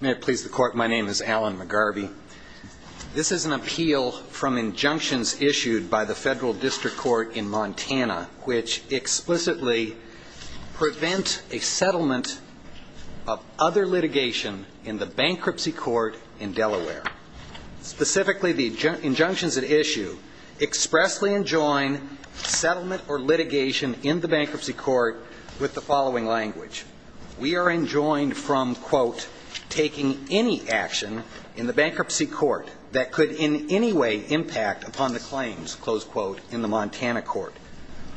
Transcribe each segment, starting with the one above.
May it please the Court, my name is Alan McGarvey. This is an appeal from injunctions issued by the Federal District Court in Montana which explicitly prevent a settlement of other litigation in the bankruptcy court in Delaware. Specifically, the injunctions at issue expressly enjoin settlement or litigation in the bankruptcy court with the following language. We are enjoined from, quote, taking any action in the bankruptcy court that could in any way impact upon the claims, close quote, in the Montana court.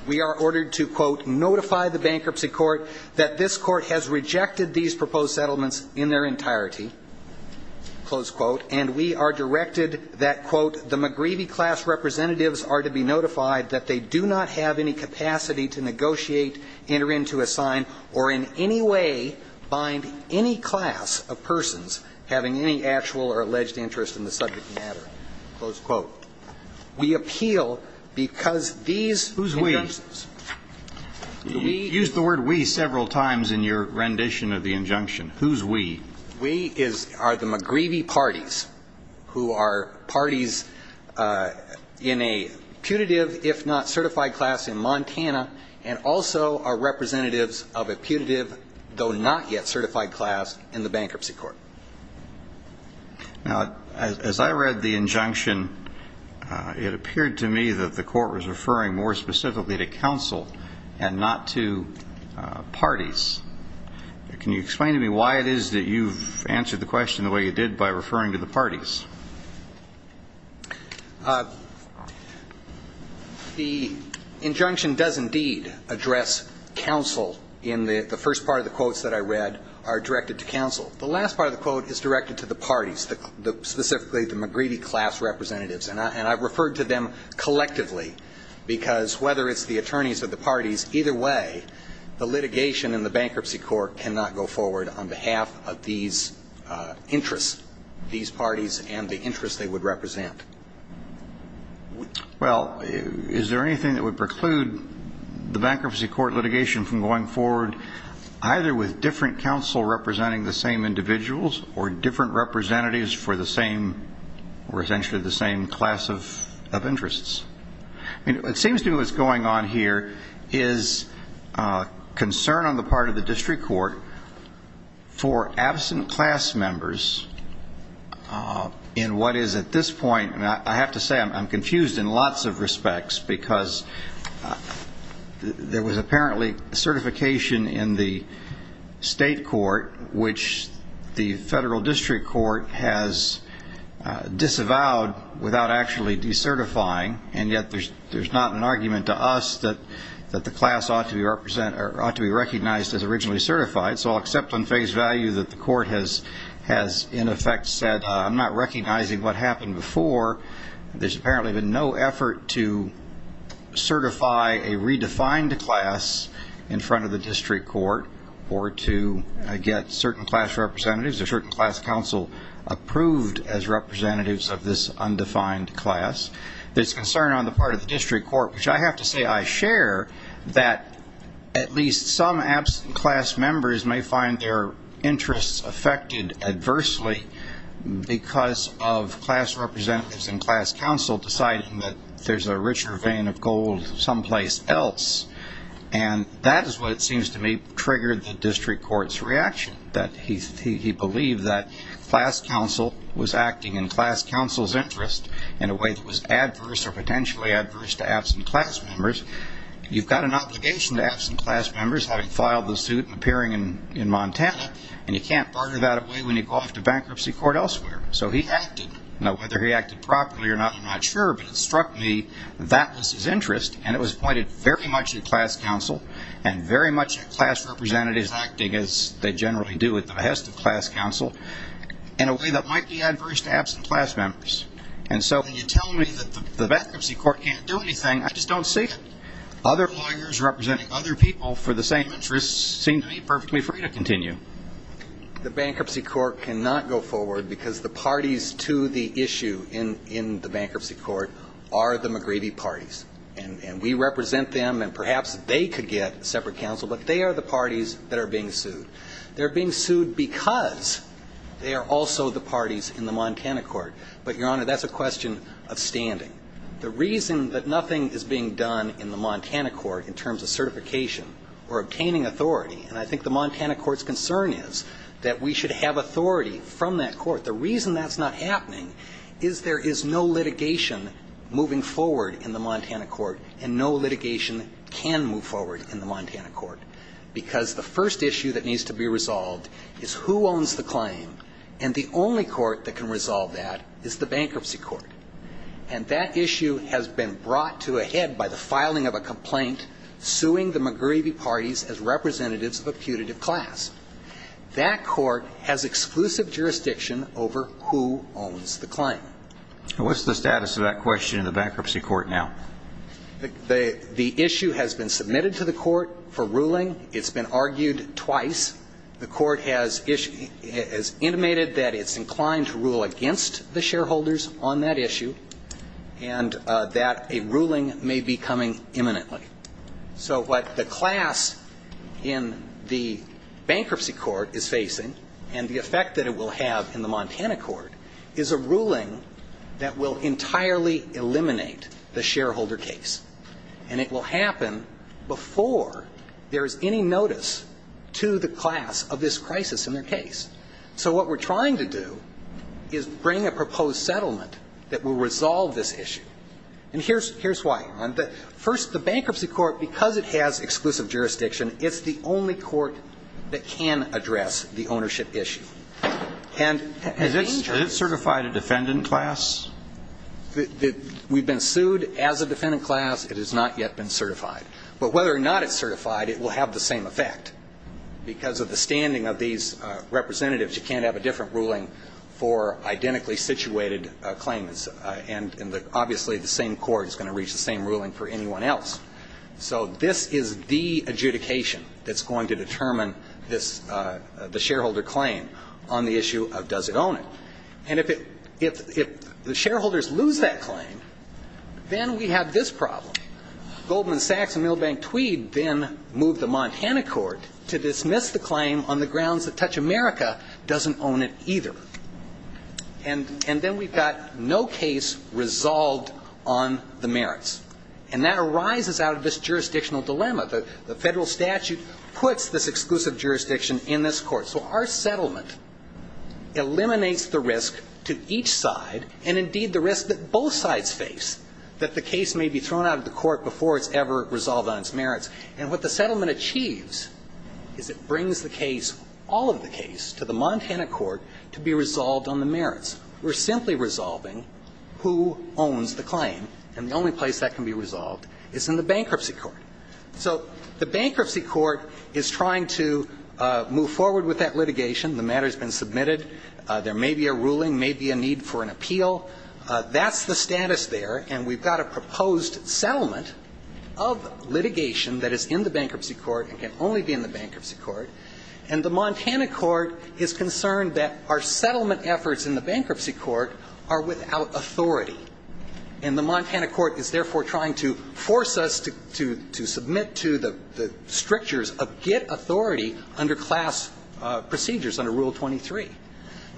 We are ordered to, quote, notify the bankruptcy court that this court has rejected these proposed settlements in their entirety, close quote, and we are directed that, quote, the McGreevey class representatives are to be notified that they do not have any capacity to negotiate, enter into a sign, or in any way bind any class of persons having any actual or alleged interest in the subject matter, close quote. We appeal because these injunctions. Who's we? Use the word we several times in your rendition of the injunction. Who's we? We are the McGreevey parties who are parties in a putative if not certified class in Montana and also are representatives of a putative though not yet certified class in the bankruptcy court. Now, as I read the injunction, it appeared to me that the court was referring more specifically to counsel and not to parties. Can you explain to me why it is that you've answered the question the way you did by referring to the parties? The injunction does indeed address counsel in the first part of the quotes that I read are directed to counsel. The last part of the quote is directed to the parties, specifically the McGreevey class representatives, and I've referred to them collectively because whether it's the attorneys or the parties, either way, the litigation in the bankruptcy court cannot go forward on behalf of these interests, these parties and the interests they would represent. Well, is there anything that would preclude the bankruptcy court litigation from going forward either with different counsel representing the same individuals or different representatives for the same or essentially the same class of interests? I mean, it seems to me what's going on here is concern on the part of the district court for absent class members in what is at this point, and I have to say I'm confused in lots of respects because there was apparently certification in the state court, which the federal district court has disavowed without actually decertifying, and yet there's not an argument to us that the class ought to be recognized as originally certified, so I'll accept on face value that the court has in effect said I'm not recognizing what happened before. There's apparently been no effort to certify a redefined class in front of the district court or to get certain class representatives or certain class counsel approved as representatives of this undefined class. There's concern on the part of the district court, which I have to say I share, that at least some absent class members may find their interests affected adversely because of class representatives and class counsel deciding that there's a richer vein of gold someplace else, and that is what it seems to me triggered the district court's reaction, that he believed that class counsel was acting in class counsel's interest in a way that was adverse or potentially adverse to absent class members. You've got an obligation to absent class members having filed the suit and appearing in Montana, and you can't barter that away when you go off to bankruptcy court elsewhere. So he acted. Now, whether he acted properly or not, I'm not sure, but it struck me that was his interest, and it was pointed very much at class counsel and very much at class representatives acting, as they generally do at the behest of class counsel, in a way that might be adverse to absent class members. And so when you tell me that the bankruptcy court can't do anything, I just don't see it. Other lawyers representing other people for the same interests seem to me perfectly free to continue. The bankruptcy court cannot go forward because the parties to the issue in the bankruptcy court are the McGreevy parties, and we represent them, and perhaps they could get separate counsel, but they are the parties that are being sued. They're being sued because they are also the parties in the Montana court. But, Your Honor, that's a question of standing. The reason that nothing is being done in the Montana court in terms of certification or obtaining authority, and I think the Montana court's concern is that we should have authority from that court. The reason that's not happening is there is no litigation moving forward in the Montana court, and no litigation can move forward in the Montana court, because the first issue that needs to be resolved is who owns the claim, and the only court that can resolve that is the bankruptcy court. And that issue has been brought to a head by the filing of a complaint suing the McGreevy parties as representatives of a putative class. That court has exclusive jurisdiction over who owns the claim. And what's the status of that question in the bankruptcy court now? The issue has been submitted to the court for ruling. It's been argued twice. The court has intimated that it's inclined to rule against the shareholders on that issue and that a ruling may be coming imminently. So what the class in the bankruptcy court is facing and the effect that it will have in the Montana court is a ruling that will entirely eliminate the shareholder case. And it will happen before there is any notice to the class of this crisis in their case. So what we're trying to do is bring a proposed settlement that will resolve this issue. And here's why. First, the bankruptcy court, because it has exclusive jurisdiction, it's the only court that can address the ownership issue. And in the interest of time. Is it certified a defendant class? We've been sued as a defendant class. It has not yet been certified. But whether or not it's certified, it will have the same effect. Because of the standing of these representatives, you can't have a different ruling for identically situated claims. And obviously the same court is going to reach the same ruling for anyone else. So this is the adjudication that's going to determine the shareholder claim on the issue of does it own it. And if the shareholders lose that claim, then we have this problem. Goldman Sachs and Milbank Tweed then moved the Montana court to dismiss the claim on the grounds that Touch America doesn't own it either. And then we've got no case resolved on the merits. And that arises out of this jurisdictional dilemma. The federal statute puts this exclusive jurisdiction in this court. So our settlement eliminates the risk to each side, and indeed the risk that both sides face, that the case may be thrown out of the court before it's ever resolved on its merits. And what the settlement achieves is it brings the case, all of the case, to the Montana court to be resolved on the merits. We're simply resolving who owns the claim. And the only place that can be resolved is in the bankruptcy court. So the bankruptcy court is trying to move forward with that litigation. The matter has been submitted. There may be a ruling, may be a need for an appeal. That's the status there. And we've got a proposed settlement of litigation that is in the bankruptcy court and can only be in the bankruptcy court. And the Montana court is concerned that our settlement efforts in the bankruptcy court are without authority. And the Montana court is therefore trying to force us to submit to the strictures of get authority under class procedures under Rule 23.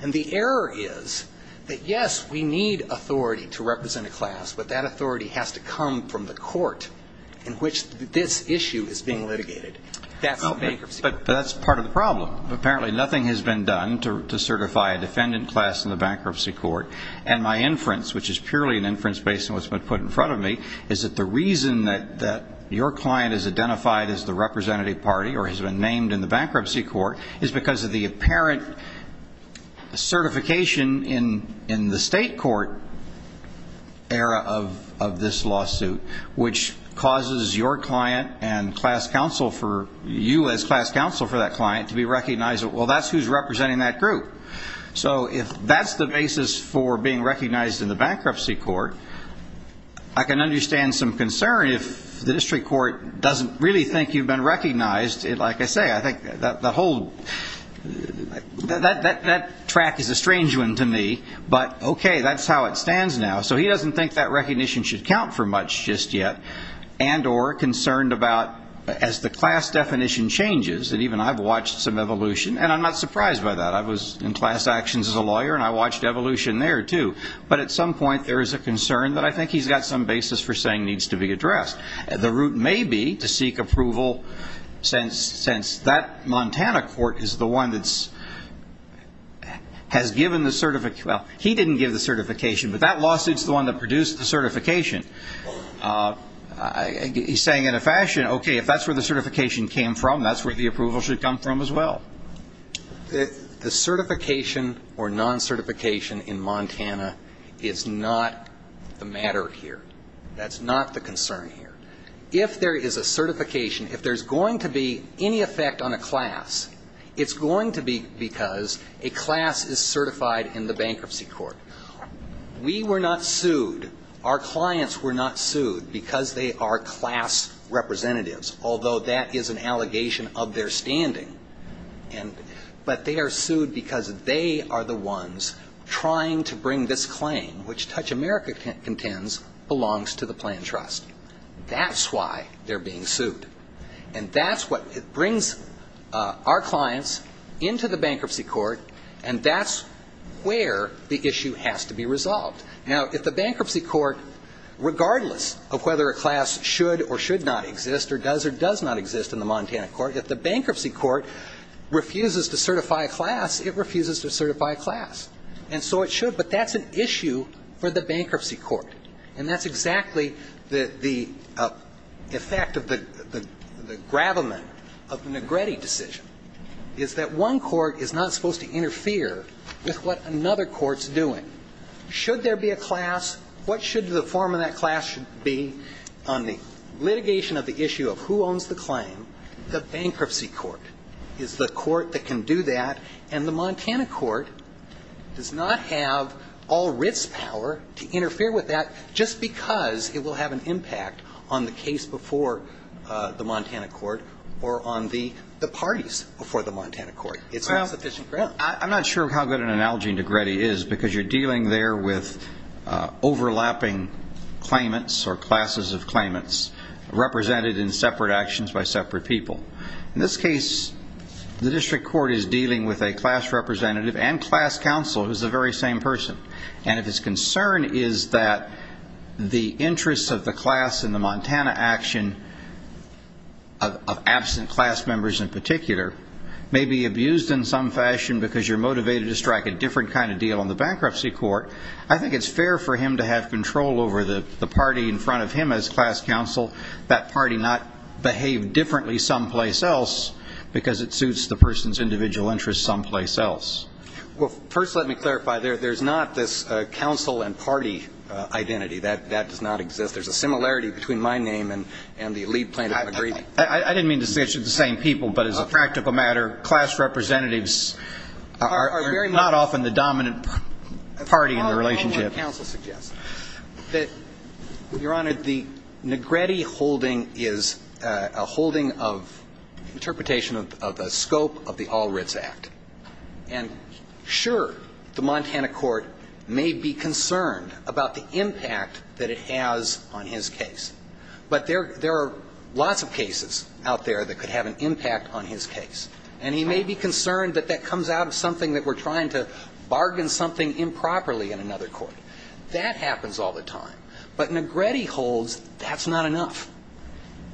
And the error is that, yes, we need authority to represent a class, but that authority has to come from the court in which this issue is being litigated. That's the bankruptcy court. Well, apparently nothing has been done to certify a defendant class in the bankruptcy court. And my inference, which is purely an inference based on what's been put in front of me, is that the reason that your client is identified as the representative party or has been named in the bankruptcy court is because of the apparent certification in the state court era of this lawsuit, which causes your client and class counsel for you as class counsel for that client to be recognized. Well, that's who's representing that group. So if that's the basis for being recognized in the bankruptcy court, I can understand some concern if the district court doesn't really think you've been recognized. Like I say, I think the whole – that track is a strange one to me, but, okay, that's how it stands now. So he doesn't think that recognition should count for much just yet, and or concerned about as the class definition changes, and even I've watched some evolution, and I'm not surprised by that. I was in class actions as a lawyer, and I watched evolution there, too. But at some point there is a concern that I think he's got some basis for saying needs to be addressed. The route may be to seek approval since that Montana court is the one that has given the – well, he didn't give the certification, but that lawsuit is the one that produced the certification. He's saying in a fashion, okay, if that's where the certification came from, that's where the approval should come from as well. The certification or non-certification in Montana is not the matter here. That's not the concern here. If there is a certification, if there's going to be any effect on a class, it's going to be because a class is certified in the bankruptcy court. We were not sued. Our clients were not sued because they are class representatives, although that is an allegation of their standing. But they are sued because they are the ones trying to bring this claim, which Touch America contends belongs to the planned trust. That's why they're being sued. And that's what brings our clients into the bankruptcy court, and that's where the issue has to be resolved. Now, if the bankruptcy court, regardless of whether a class should or should not exist or does or does not exist in the Montana court, if the bankruptcy court refuses to certify a class, it refuses to certify a class. And so it should, but that's an issue for the bankruptcy court. And that's exactly the effect of the gravamen of the Negretti decision, is that one court is not supposed to interfere with what another court's doing. Should there be a class? What should the form of that class be on the litigation of the issue of who owns the claim? The bankruptcy court is the court that can do that, and the Montana court does not have all writs power to interfere with that just because it will have an impact on the case before the Montana court or on the parties before the Montana court. It's not sufficient ground. I'm not sure how good an analogy Negretti is, because you're dealing there with overlapping claimants or classes of claimants represented in separate actions by separate people. In this case, the district court is dealing with a class representative and class counsel, who's the very same person. And if his concern is that the interests of the class in the Montana action of absent class members in particular may be abused in some fashion because you're motivated to strike a different kind of deal on the bankruptcy court, I think it's fair for him to have control over the party in front of him as class counsel, that party not behave differently someplace else because it suits the person's individual interests someplace else. Well, first let me clarify. There's not this counsel and party identity. That does not exist. There's a similarity between my name and the lead plaintiff. I didn't mean to say it should be the same people, but as a practical matter, class representatives are not often the dominant party in the relationship. Your Honor, counsel suggests that, Your Honor, the Negretti holding is a holding of interpretation of the scope of the All Writs Act. And sure, the Montana court may be concerned about the impact that it has on his case, but there are lots of cases out there that could have an impact on his case. And he may be concerned that that comes out of something that we're trying to bargain and something improperly in another court. That happens all the time. But Negretti holds that's not enough.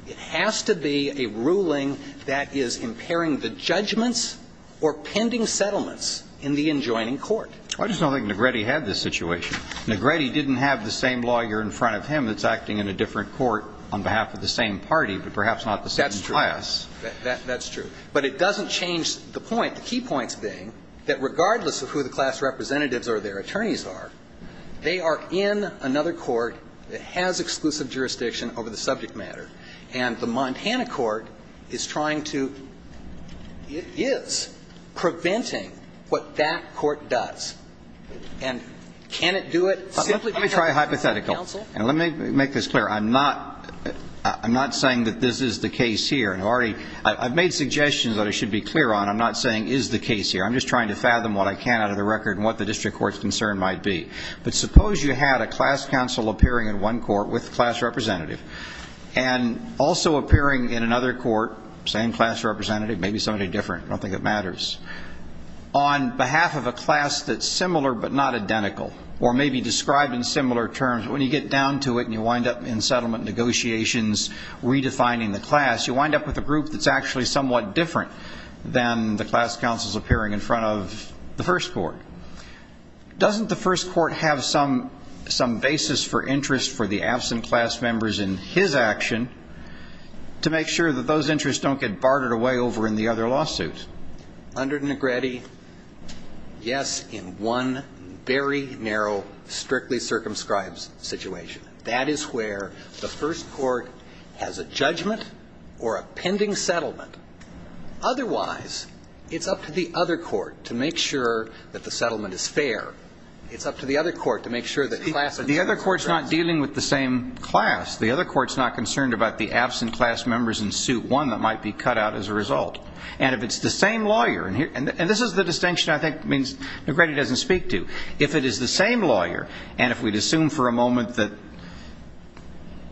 It has to be a ruling that is impairing the judgments or pending settlements in the adjoining court. I just don't think Negretti had this situation. Negretti didn't have the same lawyer in front of him that's acting in a different court on behalf of the same party, but perhaps not the same class. That's true. But it doesn't change the point, the key points being, that regardless of who the class representatives or their attorneys are, they are in another court that has exclusive jurisdiction over the subject matter. And the Montana court is trying to, it is, preventing what that court does. And can it do it simply because it has a different counsel? Let me try hypothetical. And let me make this clear. I'm not saying that this is the case here. I've made suggestions that I should be clear on. I'm not saying is the case here. I'm just trying to fathom what I can out of the record and what the district court's concern might be. But suppose you had a class counsel appearing in one court with a class representative and also appearing in another court, same class representative, maybe somebody different, I don't think it matters, on behalf of a class that's similar but not identical or maybe described in similar terms, but when you get down to it and you wind up in settlement negotiations redefining the class, you wind up with a group that's actually somewhat different than the class counsels appearing in front of the first court. Doesn't the first court have some basis for interest for the absent class members in his action to make sure that those interests don't get bartered away over in the other lawsuit? Under Negretti, yes, in one very narrow, strictly circumscribed situation. That is where the first court has a judgment or a pending settlement. Otherwise, it's up to the other court to make sure that the settlement is fair. It's up to the other court to make sure that class is fair. The other court's not dealing with the same class. The other court's not concerned about the absent class members in suit one that might be cut out as a result. And if it's the same lawyer, and this is the distinction I think means Negretti doesn't speak to, if it is the same lawyer and if we'd assume for a moment that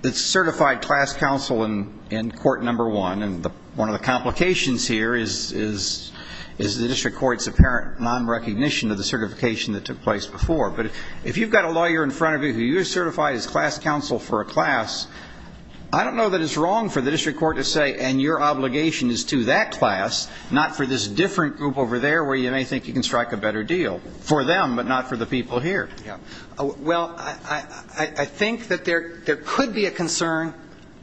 it's certified class counsel in court number one and one of the complications here is the district court's apparent nonrecognition of the certification that took place before. But if you've got a lawyer in front of you who you've certified as class counsel for a class, I don't know that it's wrong for the district court to say, and your obligation is to that class, not for this different group over there where you may think you can strike a better deal. For them, but not for the people here. Well, I think that there could be a concern,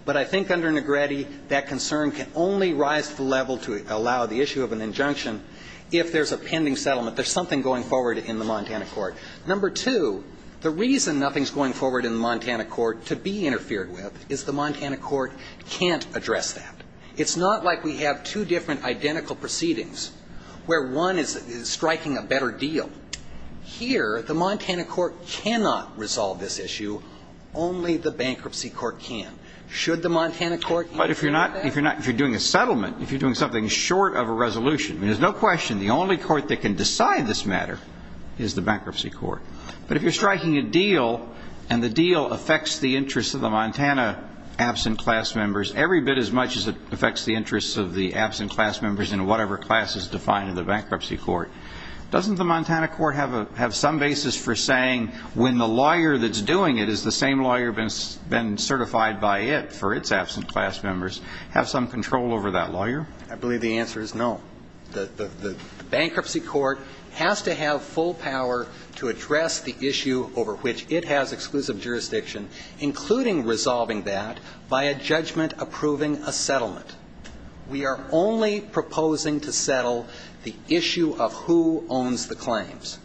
but I think under Negretti that concern can only rise to the level to allow the issue of an injunction if there's a pending settlement, there's something going forward in the Montana court. Number two, the reason nothing's going forward in the Montana court to be interfered with is the Montana court can't address that. It's not like we have two different identical proceedings where one is striking a better deal. Here, the Montana court cannot resolve this issue. Only the bankruptcy court can. Should the Montana court answer that? But if you're doing a settlement, if you're doing something short of a resolution, there's no question the only court that can decide this matter is the bankruptcy court. But if you're striking a deal and the deal affects the interests of the Montana absent class members every bit as much as it affects the interests of the absent class members in whatever class is defined in the bankruptcy court, doesn't the Montana court have some basis for saying when the lawyer that's doing it is the same lawyer that's been certified by it for its absent class members, have some control over that lawyer? I believe the answer is no. The bankruptcy court has to have full power to address the issue over which it has exclusive jurisdiction, including resolving that by a judgment approving a settlement. We are only proposing to settle the issue of who owns the claims.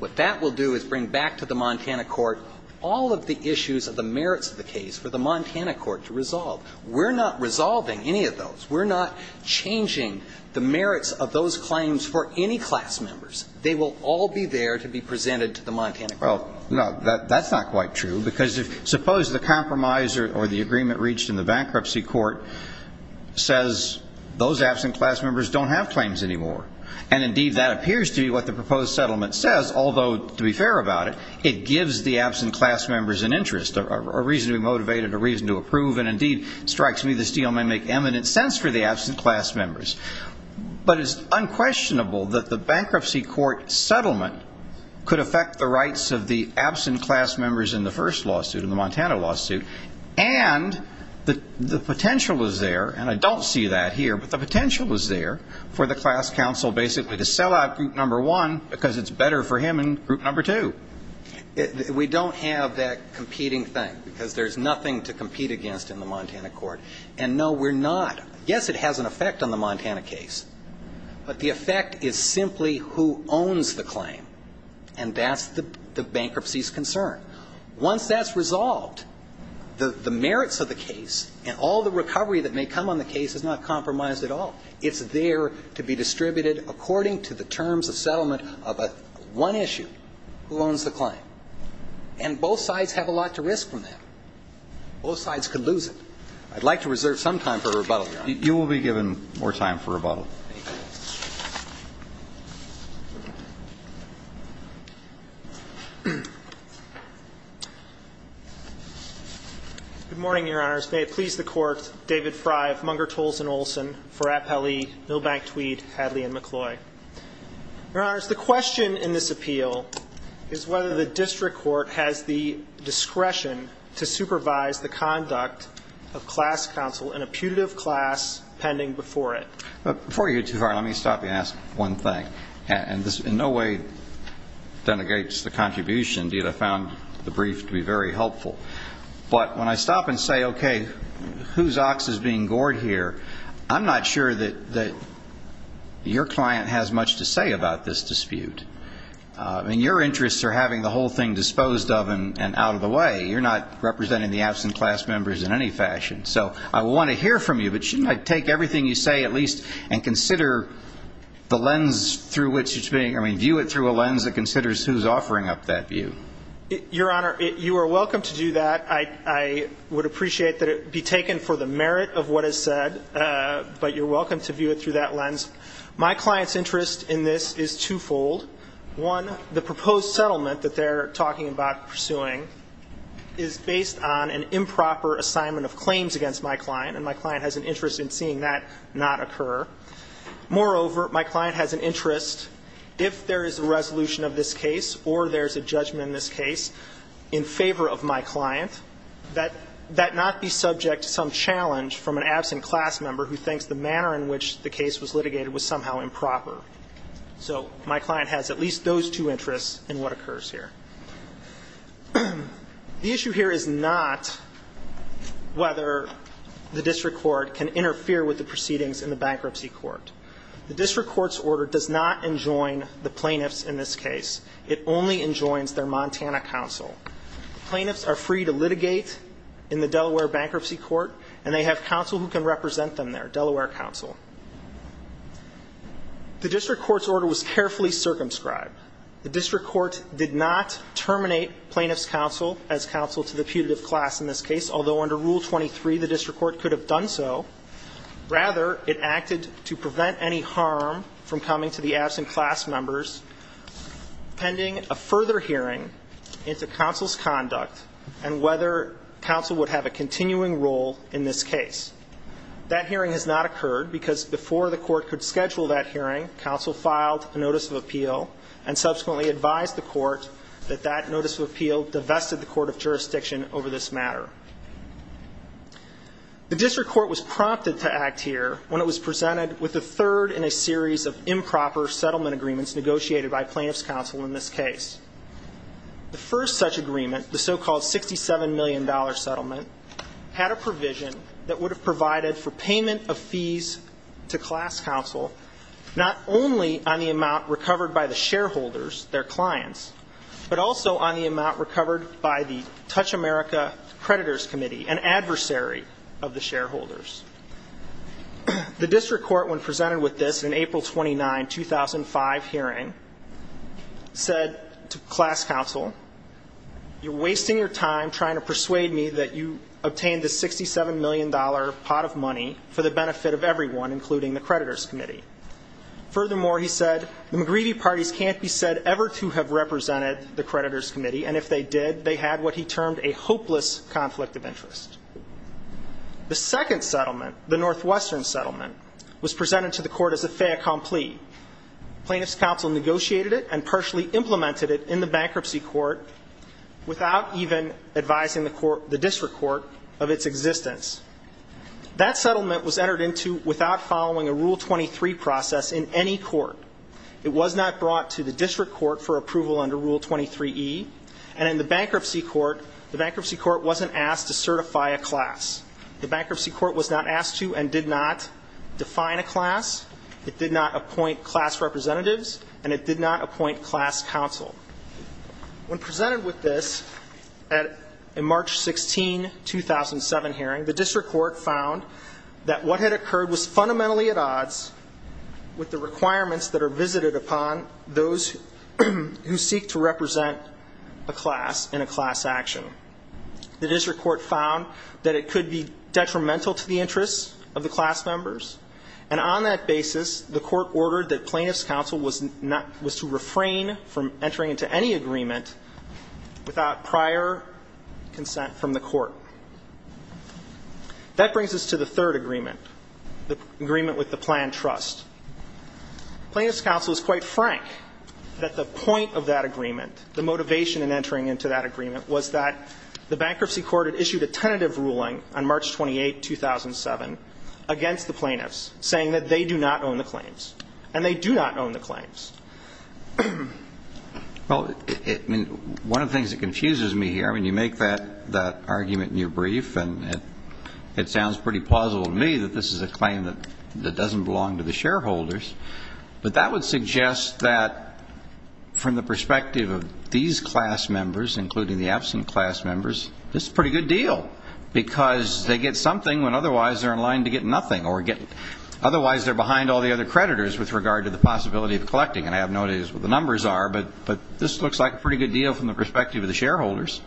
What that will do is bring back to the Montana court all of the issues of the merits of the case for the Montana court to resolve. We're not resolving any of those. We're not changing the merits of those claims for any class members. They will all be there to be presented to the Montana court. Well, no, that's not quite true, because suppose the compromise or the agreement reached in the bankruptcy court says those absent class members don't have claims anymore, and indeed that appears to be what the proposed settlement says, although to be fair about it, it gives the absent class members an interest, a reason to be motivated, a reason to approve, and indeed it strikes me this deal may make eminent sense for the absent class members. But it's unquestionable that the bankruptcy court settlement could affect the rights of the absent class members in the first lawsuit, in the Montana lawsuit, and the potential is there, and I don't see that here, but the potential is there for the class counsel basically to sell out group number one because it's better for him in group number two. We don't have that competing thing, because there's nothing to compete against in the Montana court. And no, we're not. Yes, it has an effect on the Montana case, but the effect is simply who owns the claim, and that's the bankruptcy's concern. Once that's resolved, the merits of the case and all the recovery that may come on the case is not compromised at all. It's there to be distributed according to the terms of settlement of one issue, who owns the claim. And both sides have a lot to risk from that. Both sides could lose it. I'd like to reserve some time for rebuttal here. You will be given more time for rebuttal. Thank you. Good morning, Your Honors. May it please the Court, David Frey of Munger, Tolleson, Olson for Appellee, Milbank, Tweed, Hadley, and McCloy. Your Honors, the question in this appeal is whether the district court has the discretion to supervise the conduct of class counsel in a putative class pending before it. Before you go too far, let me stop you and ask one thing. And this in no way denigrates the contribution. I found the brief to be very helpful. But when I stop and say, okay, whose ox is being gored here, I'm not sure that your client has much to say about this dispute. I mean, your interests are having the whole thing disposed of and out of the way. You're not representing the absent class members in any fashion. So I want to hear from you, but shouldn't I take everything you say at least and consider the lens through which it's being, I mean, view it through a lens that considers who's offering up that view? Your Honor, you are welcome to do that. I would appreciate that it be taken for the merit of what is said. But you're welcome to view it through that lens. My client's interest in this is twofold. One, the proposed settlement that they're talking about pursuing is based on an improper assignment of claims against my client, and my client has an interest in seeing that not occur. Moreover, my client has an interest, if there is a resolution of this case or there's a judgment in this case in favor of my client, that that not be subject to some challenge from an absent class member who thinks the manner in which the case was litigated was somehow improper. So my client has at least those two interests in what occurs here. The issue here is not whether the district court can interfere with the proceedings in the bankruptcy court. The district court's order does not enjoin the plaintiffs in this case. It only enjoins their Montana counsel. The plaintiffs are free to litigate in the Delaware bankruptcy court, and they have counsel who can represent them there, Delaware counsel. The district court's order was carefully circumscribed. The district court did not terminate plaintiffs' counsel as counsel to the putative class in this case, although under Rule 23 the district court could have done so. Rather, it acted to prevent any harm from coming to the absent class members pending a further hearing into counsel's conduct and whether counsel would have a continuing role in this case. That hearing has not occurred because before the court could schedule that hearing, counsel filed a notice of appeal and subsequently advised the court that that notice of appeal divested the court of jurisdiction over this matter. The district court was prompted to act here when it was presented with a third in a series of improper settlement agreements negotiated by plaintiffs' counsel in this case. The first such agreement, the so-called $67 million settlement, had a provision that would have provided for payment of fees to class counsel not only on the amount recovered by the shareholders, their clients, but also on the amount recovered by the Touch America Creditors Committee, an adversary of the shareholders. The district court, when presented with this in April 29, 2005 hearing, said to class counsel, You're wasting your time trying to persuade me that you obtained this $67 million pot of money for the benefit of everyone, including the creditors' committee. Furthermore, he said, The second settlement, the Northwestern settlement, was presented to the court as a fait accompli. Plaintiffs' counsel negotiated it and partially implemented it in the bankruptcy court without even advising the district court of its existence. That settlement was entered into without following a Rule 23 process in any court. It was not brought to the district court for approval under Rule 23E, and in the bankruptcy court, the bankruptcy court wasn't asked to certify a class. The bankruptcy court was not asked to and did not define a class. It did not appoint class representatives, and it did not appoint class counsel. When presented with this at a March 16, 2007 hearing, the district court found that what had occurred was fundamentally at odds with the requirements that are visited upon those who seek to represent a class in a class action. The district court found that it could be detrimental to the interests of the class members, and on that basis, the court ordered that plaintiffs' counsel was to refrain from entering into any agreement without prior consent from the court. That brings us to the third agreement, the agreement with the planned trust. Plaintiffs' counsel was quite frank that the point of that agreement, the motivation in entering into that agreement, was that the bankruptcy court had issued a tentative ruling on March 28, 2007 against the plaintiffs saying that they do not own the claims, and they do not own the claims. Well, one of the things that confuses me here, when you make that argument in your brief, and it sounds pretty plausible to me that this is a claim that doesn't belong to the shareholders, but that would suggest that from the perspective of these class members, including the absent class members, this is a pretty good deal because they get something when otherwise they're in line to get nothing, or otherwise they're behind all the other creditors with regard to the possibility of collecting, and I have no idea what the numbers are, but this looks like a pretty good deal from the perspective of the shareholders.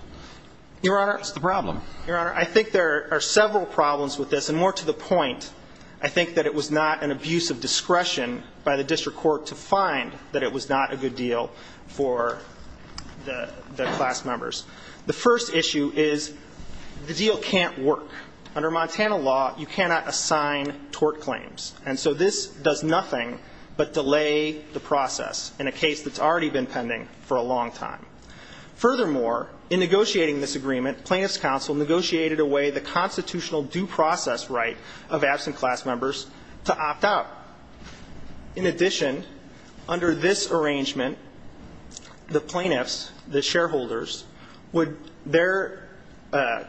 Your Honor, I think there are several problems with this, and more to the point, I think that it was not an abuse of discretion by the district court to find that it was not a good deal for the class members. The first issue is the deal can't work. Under Montana law, you cannot assign tort claims, and so this does nothing but delay the process in a case that's already been pending for a long time. Furthermore, in negotiating this agreement, plaintiffs' counsel negotiated away the constitutional due process right of absent class members to opt out. In addition, under this arrangement, the plaintiffs, the shareholders, their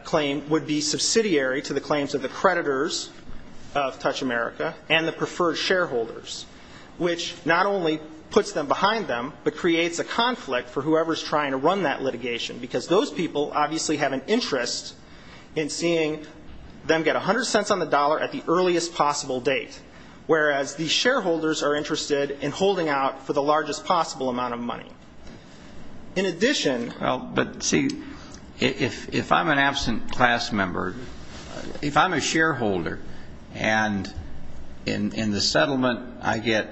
claim would be subsidiary to the claims of the creditors of Touch America and the preferred shareholders, which not only puts them behind them, but creates a conflict for whoever's trying to run that litigation because those people obviously have an interest in seeing them get 100 cents on the dollar at the earliest possible date, whereas the shareholders are interested in holding out for the largest possible amount of money. In addition ñ Well, but see, if I'm an absent class member, if I'm a shareholder and in the settlement I get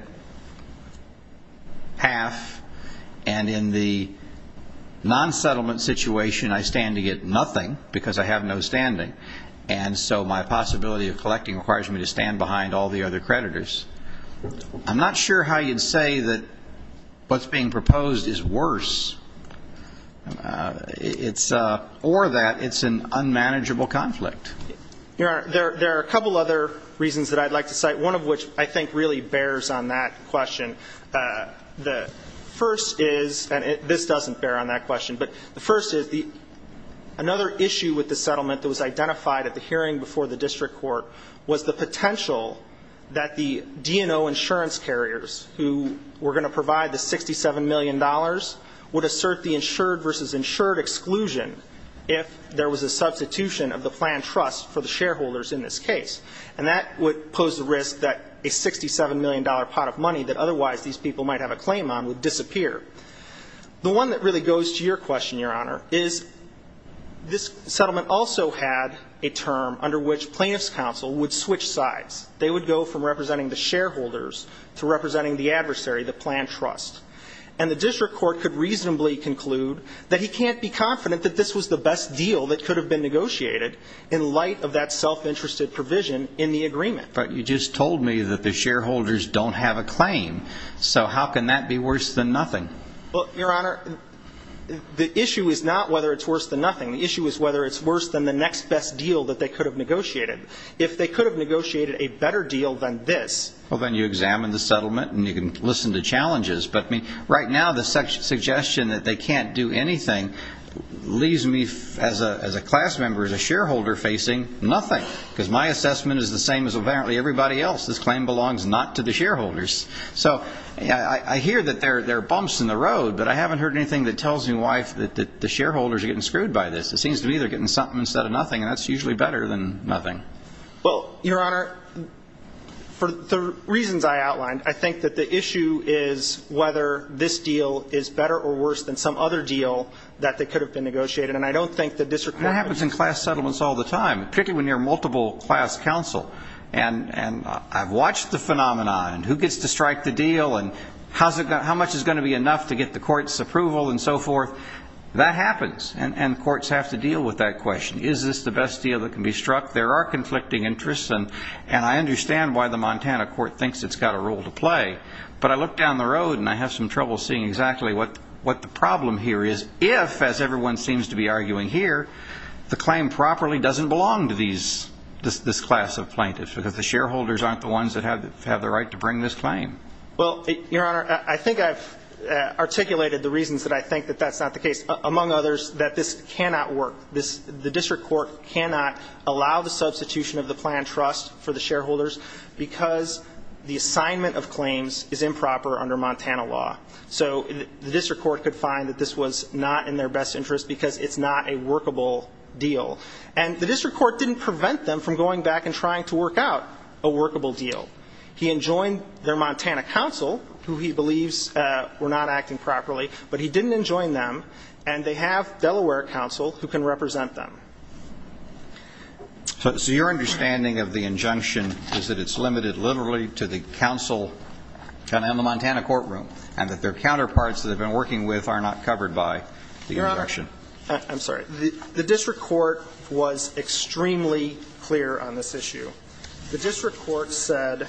half, and in the non-settlement situation I stand to get nothing because I have no standing, and so my possibility of collecting requires me to stand behind all the other creditors, I'm not sure how you'd say that what's being proposed is worse, or that it's an unmanageable conflict. Your Honor, there are a couple other reasons that I'd like to cite, one of which I think really bears on that question. The first is, and this doesn't bear on that question, but the first is another issue with the settlement that was identified at the hearing before the district court was the potential that the D&O insurance carriers who were going to provide the $67 million would assert the insured versus insured exclusion if there was a substitution of the planned trust for the shareholders in this case, and that would pose the risk that a $67 million pot of money that otherwise these people might have a claim on would disappear. The one that really goes to your question, Your Honor, is this settlement also had a term under which plaintiff's counsel would switch sides. They would go from representing the shareholders to representing the adversary, the planned trust, and the district court could reasonably conclude that he can't be confident that this was the best deal that could have been negotiated in light of that self-interested provision in the agreement. But you just told me that the shareholders don't have a claim, so how can that be worse than nothing? Well, Your Honor, the issue is not whether it's worse than nothing. The issue is whether it's worse than the next best deal that they could have negotiated. If they could have negotiated a better deal than this... Well, then you examine the settlement and you can listen to challenges, but right now the suggestion that they can't do anything leaves me as a class member, as a shareholder, facing nothing because my assessment is the same as apparently everybody else. This claim belongs not to the shareholders. So I hear that there are bumps in the road, but I haven't heard anything that tells me why the shareholders are getting screwed by this. It seems to me they're getting something instead of nothing, and that's usually better than nothing. Well, Your Honor, for the reasons I outlined, I think that the issue is whether this deal is better or worse than some other deal that could have been negotiated, and I don't think the district court... That happens in class settlements all the time, particularly when you're a multiple class counsel. And I've watched the phenomenon. Who gets to strike the deal and how much is going to be enough to get the court's approval and so forth? That happens, and courts have to deal with that question. Is this the best deal that can be struck? There are conflicting interests, and I understand why the Montana court thinks it's got a role to play, but I look down the road and I have some trouble seeing exactly what the problem here is if, as everyone seems to be arguing here, the claim properly doesn't belong to this class of plaintiffs because the shareholders aren't the ones that have the right to bring this claim. Well, Your Honor, I think I've articulated the reasons that I think that that's not the case, among others, that this cannot work. The district court cannot allow the substitution of the planned trust for the shareholders because the assignment of claims is improper under Montana law. So the district court could find that this was not in their best interest because it's not a workable deal. And the district court didn't prevent them from going back and trying to work out a workable deal. He enjoined their Montana counsel, who he believes were not acting properly, but he didn't enjoin them, and they have Delaware counsel who can represent them. So your understanding of the injunction is that it's limited literally to the counsel in the Montana courtroom, and that their counterparts that they've been working with are not covered by the injunction. I'm sorry. The district court was extremely clear on this issue. The district court said,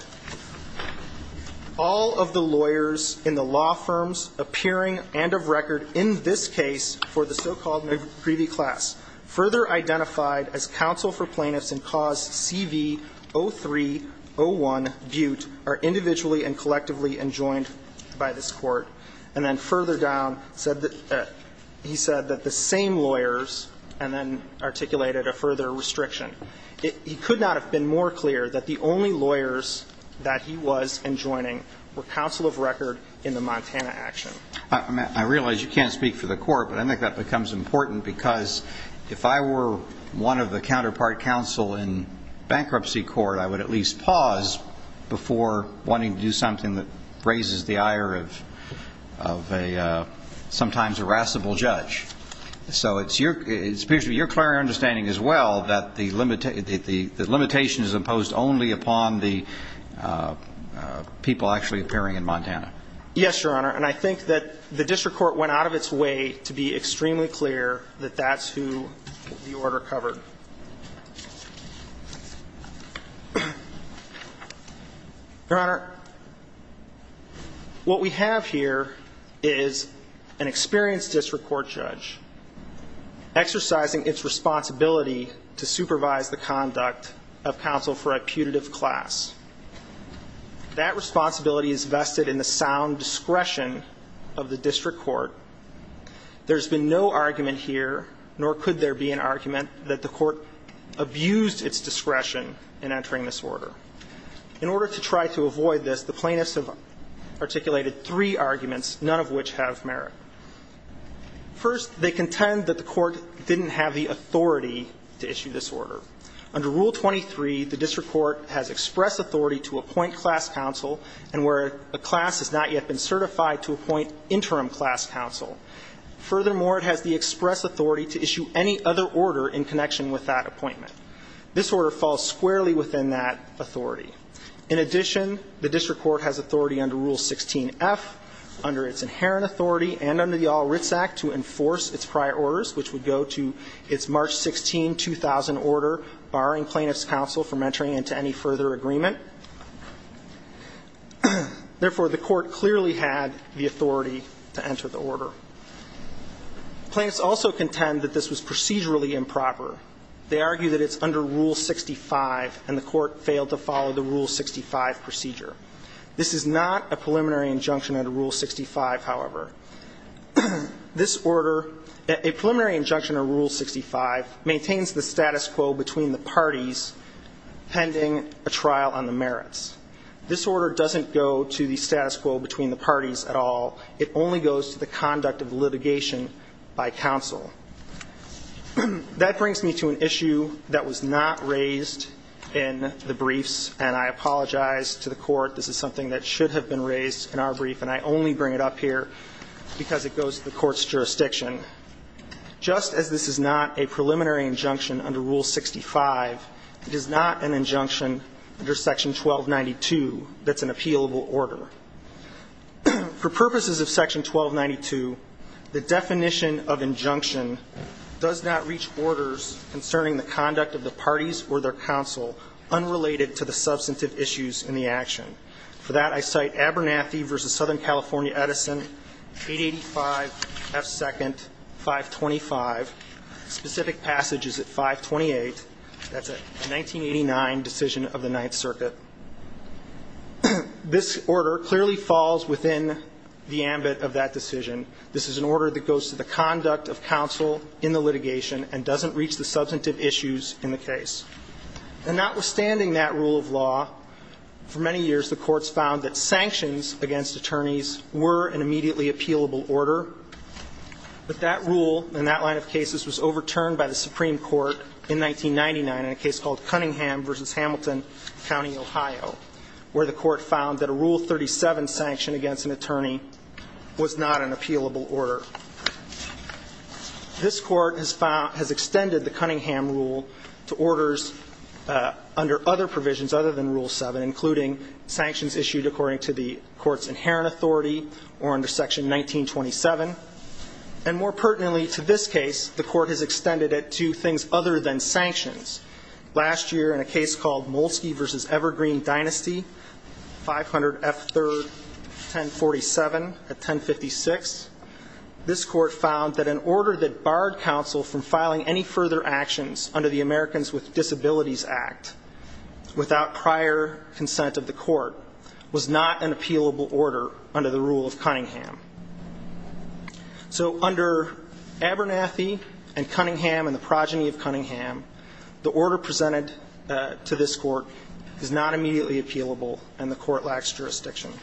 All of the lawyers in the law firms appearing and of record in this case for the so-called McCreevy class further identified as counsel for plaintiffs in cause CV-03-01 Butte are individually and collectively enjoined by this court. And then further down said that he said that the same lawyers and then articulated a further restriction. He could not have been more clear that the only lawyers that he was enjoining were counsel of record in the Montana action. I realize you can't speak for the court, but I think that becomes important because if I were one of the counterpart counsel in bankruptcy court, I would at least pause before wanting to do something that raises the ire of a sometimes irascible judge. So it appears to be your clear understanding as well that the limitation is imposed only upon the people actually appearing in Montana. Yes, Your Honor. And I think that the district court went out of its way to be extremely clear that that's who the order covered. Your Honor, what we have here is an experienced district court judge exercising its responsibility to supervise the conduct of counsel for a putative class. That responsibility is vested in the sound discretion of the district court. There's been no argument here, nor could there be an argument, that the court abused its discretion in entering this order. In order to try to avoid this, the plaintiffs have articulated three arguments, none of which have merit. First, they contend that the court didn't have the authority to issue this order. Under Rule 23, the district court has express authority to appoint class counsel and where a class has not yet been certified to appoint interim class counsel. Furthermore, it has the express authority to issue any other order in connection with that appointment. This order falls squarely within that authority. In addition, the district court has authority under Rule 16f, under its inherent authority and under the All Writs Act, to enforce its prior orders, which would go to its March 16, 2000 order barring plaintiffs' counsel from entering into any further agreement. Therefore, the court clearly had the authority to enter the order. Plaintiffs also contend that this was procedurally improper. They argue that it's under Rule 65, and the court failed to follow the Rule 65 procedure. This is not a preliminary injunction under Rule 65, however. This order, a preliminary injunction under Rule 65, maintains the status quo between the parties pending a trial on the merits. This order doesn't go to the status quo between the parties at all. It only goes to the conduct of litigation by counsel. That brings me to an issue that was not raised in the briefs, and I apologize to the Court. This is something that should have been raised in our brief, and I only bring it up here because it goes to the Court's jurisdiction. Just as this is not a preliminary injunction under Rule 65, it is not an injunction under Section 1292 that's an appealable order. For purposes of Section 1292, the definition of injunction does not reach orders concerning the conduct of the parties or their counsel unrelated to the substantive issues in the action. For that, I cite Abernathy v. Southern California Edison, 885 F. 2nd, 525. Specific passage is at 528. That's a 1989 decision of the Ninth Circuit. This order clearly falls within the ambit of that decision. This is an order that goes to the conduct of counsel in the litigation and doesn't reach the substantive issues in the case. And notwithstanding that rule of law, for many years the courts found that sanctions against attorneys were an immediately appealable order, but that rule and that line of cases was overturned by the Supreme Court in 1999 in a case called Ohio, where the court found that a Rule 37 sanction against an attorney was not an appealable order. This court has found, has extended the Cunningham Rule to orders under other provisions other than Rule 7, including sanctions issued according to the court's inherent authority or under Section 1927. And more pertinently to this case, the court has extended it to things other than sanctions. Last year in a case called Molsky v. Evergreen Dynasty, 500 F. 3rd, 1047 at 1056, this court found that an order that barred counsel from filing any further actions under the Americans with Disabilities Act without prior consent of the court was not an appealable order under the Rule of Cunningham. So under Abernathy and Cunningham and the Progeny of Cunningham, the order presented to this court is not immediately appealable and the court lacks jurisdiction.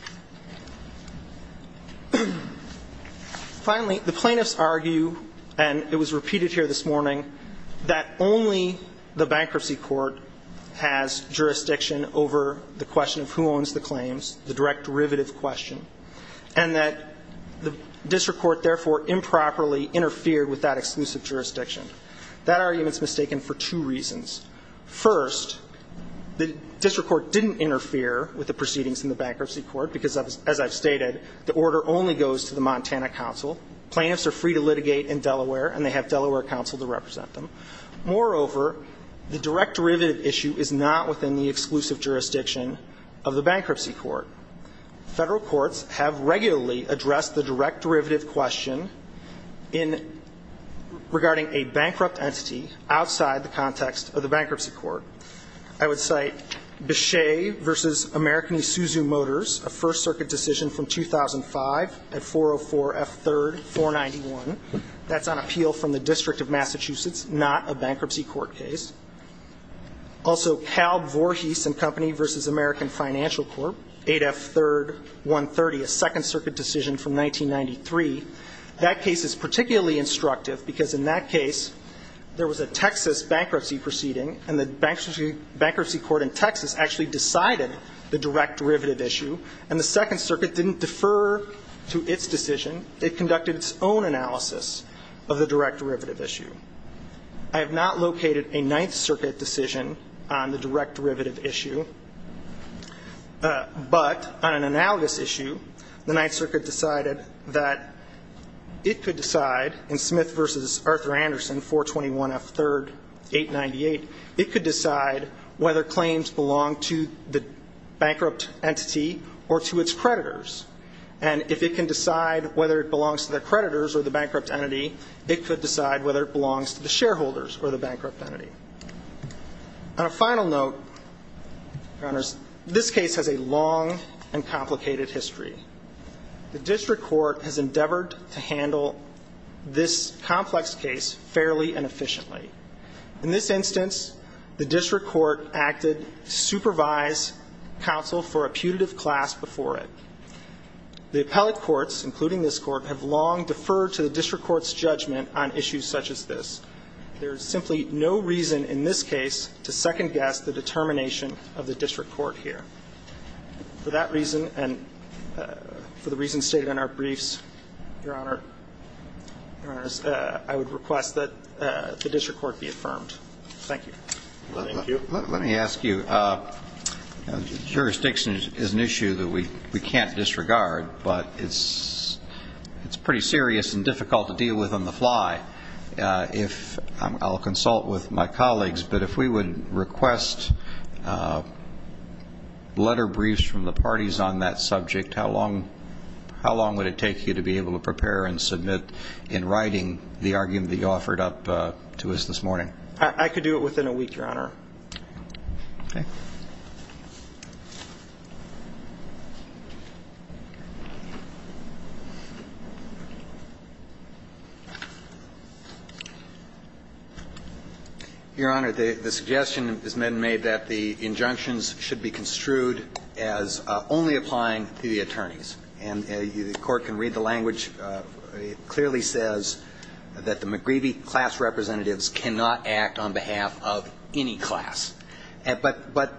Finally, the plaintiffs argue, and it was repeated here this morning, that only the bankruptcy court has jurisdiction over the question of who owns the claims, the direct derivative question, and that the district court therefore improperly interfered with that exclusive jurisdiction. That argument is mistaken for two reasons. First, the district court didn't interfere with the proceedings in the bankruptcy court because, as I've stated, the order only goes to the Montana counsel. Plaintiffs are free to litigate in Delaware and they have Delaware counsel to represent them. Moreover, the direct derivative issue is not within the exclusive jurisdiction of the bankruptcy court. Federal courts have regularly addressed the direct derivative question in regarding a bankrupt entity outside the context of the bankruptcy court. I would cite Bechet v. American Isuzu Motors, a First Circuit decision from 2005 at 404 F. 3rd, 491. That's on appeal from the District of Massachusetts, not a bankruptcy court case. Also, Cal Vorhees and Company v. American Financial Corp., 8 F. 3rd, 130, a Second Circuit decision from 1993. That case is particularly instructive because in that case there was a Texas bankruptcy proceeding and the bankruptcy court in Texas actually decided the direct derivative issue, and the Second Circuit didn't defer to its decision. It conducted its own analysis of the direct derivative issue. I have not located a Ninth Circuit decision on the direct derivative issue, but on an It could decide, in Smith v. Arthur Anderson, 421 F. 3rd, 898, it could decide whether claims belong to the bankrupt entity or to its creditors. And if it can decide whether it belongs to the creditors or the bankrupt entity, it could decide whether it belongs to the shareholders or the bankrupt entity. On a final note, Your Honors, this case has a long and complicated history. The district court has endeavored to handle this complex case fairly and efficiently. In this instance, the district court acted to supervise counsel for a putative class before it. The appellate courts, including this court, have long deferred to the district court's judgment on issues such as this. There is simply no reason in this case to second-guess the determination of the district court here. For that reason and for the reasons stated in our briefs, Your Honors, I would request that the district court be affirmed. Thank you. Thank you. Let me ask you. Jurisdiction is an issue that we can't disregard, but it's pretty serious and difficult to deal with on the fly. I'll consult with my colleagues, but if we would request letter briefs from the parties on that subject, how long would it take you to be able to prepare and submit in writing the argument that you offered up to us this morning? I could do it within a week, Your Honor. Okay. Your Honor, the suggestion has been made that the injunctions should be construed as only applying to the attorneys. And the court can read the language. It clearly says that the McGreevey class representatives cannot act on behalf of any class. The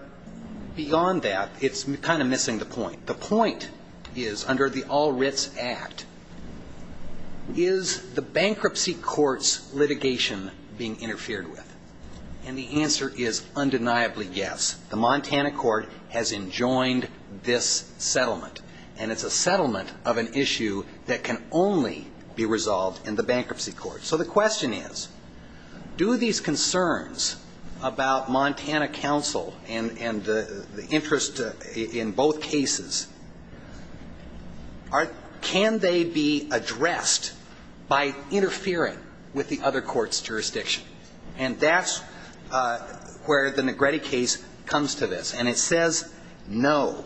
point is, under the All Writs Act, is the bankruptcy court's litigation being interfered with? And the answer is undeniably yes. The Montana court has enjoined this settlement, and it's a settlement of an issue that can only be resolved in the bankruptcy court. So the question is, do these concerns about Montana counsel and the interest in both cases, can they be addressed by interfering with the other court's jurisdiction? And that's where the Negretti case comes to this. And it says no.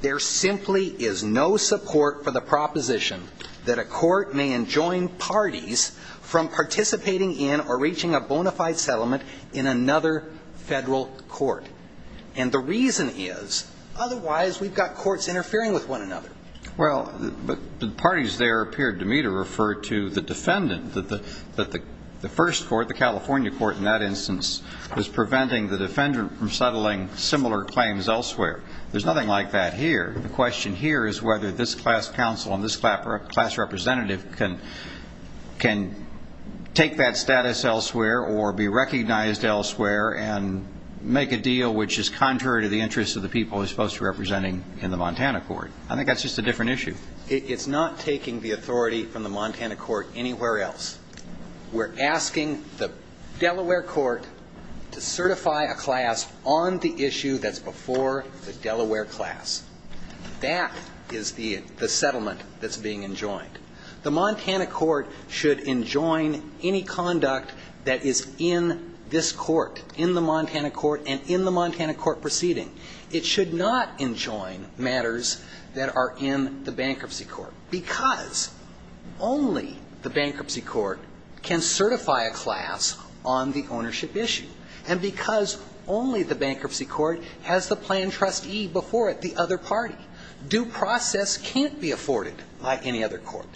There simply is no support for the proposition that a court may enjoin parties from participating in or reaching a bona fide settlement in another federal court. And the reason is, otherwise we've got courts interfering with one another. Well, but the parties there appeared to me to refer to the defendant, that the first court, the California court in that instance, is preventing the defendant from settling similar claims elsewhere. There's nothing like that here. The question here is whether this class counsel and this class representative can take that status elsewhere or be recognized elsewhere and make a deal which is contrary to the interests of the people he's supposed to be representing in the Montana court. I think that's just a different issue. It's not taking the authority from the Montana court anywhere else. We're asking the Delaware court to certify a class on the issue that's before the Delaware class. That is the settlement that's being enjoined. The Montana court should enjoin any conduct that is in this court, in the Montana court and in the Montana court proceeding. It should not enjoin matters that are in the bankruptcy court. Because only the bankruptcy court can certify a class on the ownership issue. And because only the bankruptcy court has the plan trustee before it, the other party. Due process can't be afforded by any other court.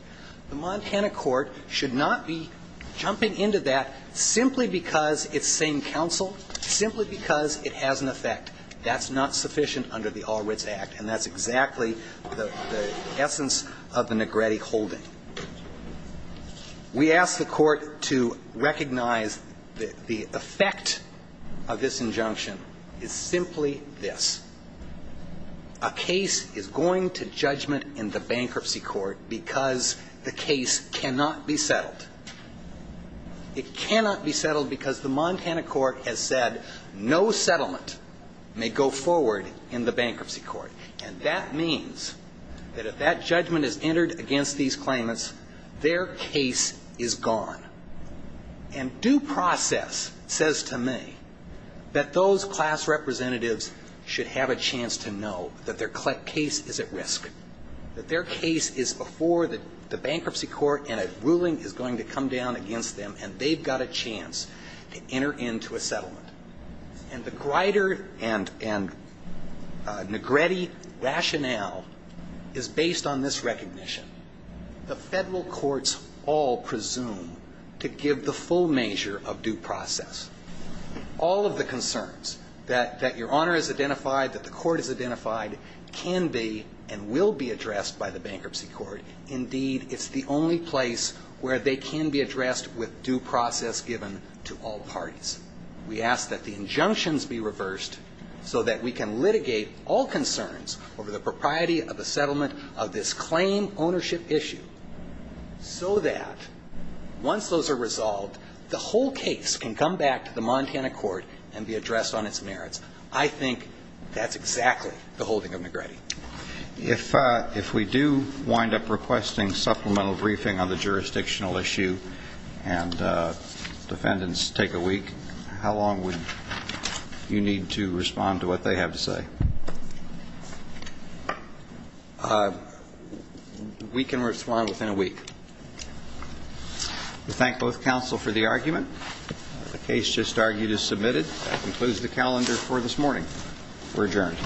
The Montana court should not be jumping into that simply because it's same counsel, simply because it has an effect. That's not sufficient under the All Wits Act. And that's exactly the essence of the Negretti holding. We ask the court to recognize the effect of this injunction is simply this. A case is going to judgment in the bankruptcy court because the case cannot be settled. It cannot be settled because the Montana court has said no settlement may go forward in the bankruptcy court. And that means that if that judgment is entered against these claimants, their case is gone. And due process says to me that those class representatives should have a chance to know that their case is at risk. That their case is before the bankruptcy court and a ruling is going to come down against them and they've got a chance to enter into a settlement. And the Grider and Negretti rationale is based on this recognition. The federal courts all presume to give the full measure of due process. All of the concerns that your Honor has identified, that the court has identified can be and will be addressed by the bankruptcy court. Indeed, it's the only place where they can be addressed with due process given to all parties. We ask that the injunctions be reversed so that we can litigate all concerns over the propriety of the settlement of this claim ownership issue. So that once those are resolved, the whole case can come back to the Montana court and be addressed on its merits. I think that's exactly the holding of Negretti. If we do wind up requesting supplemental briefing on the jurisdictional issue and defendants take a week, how long would you need to respond to what they have to say? We can respond within a week. We thank both counsel for the argument. The case just argued is submitted. That concludes the calendar for this morning. We're adjourned.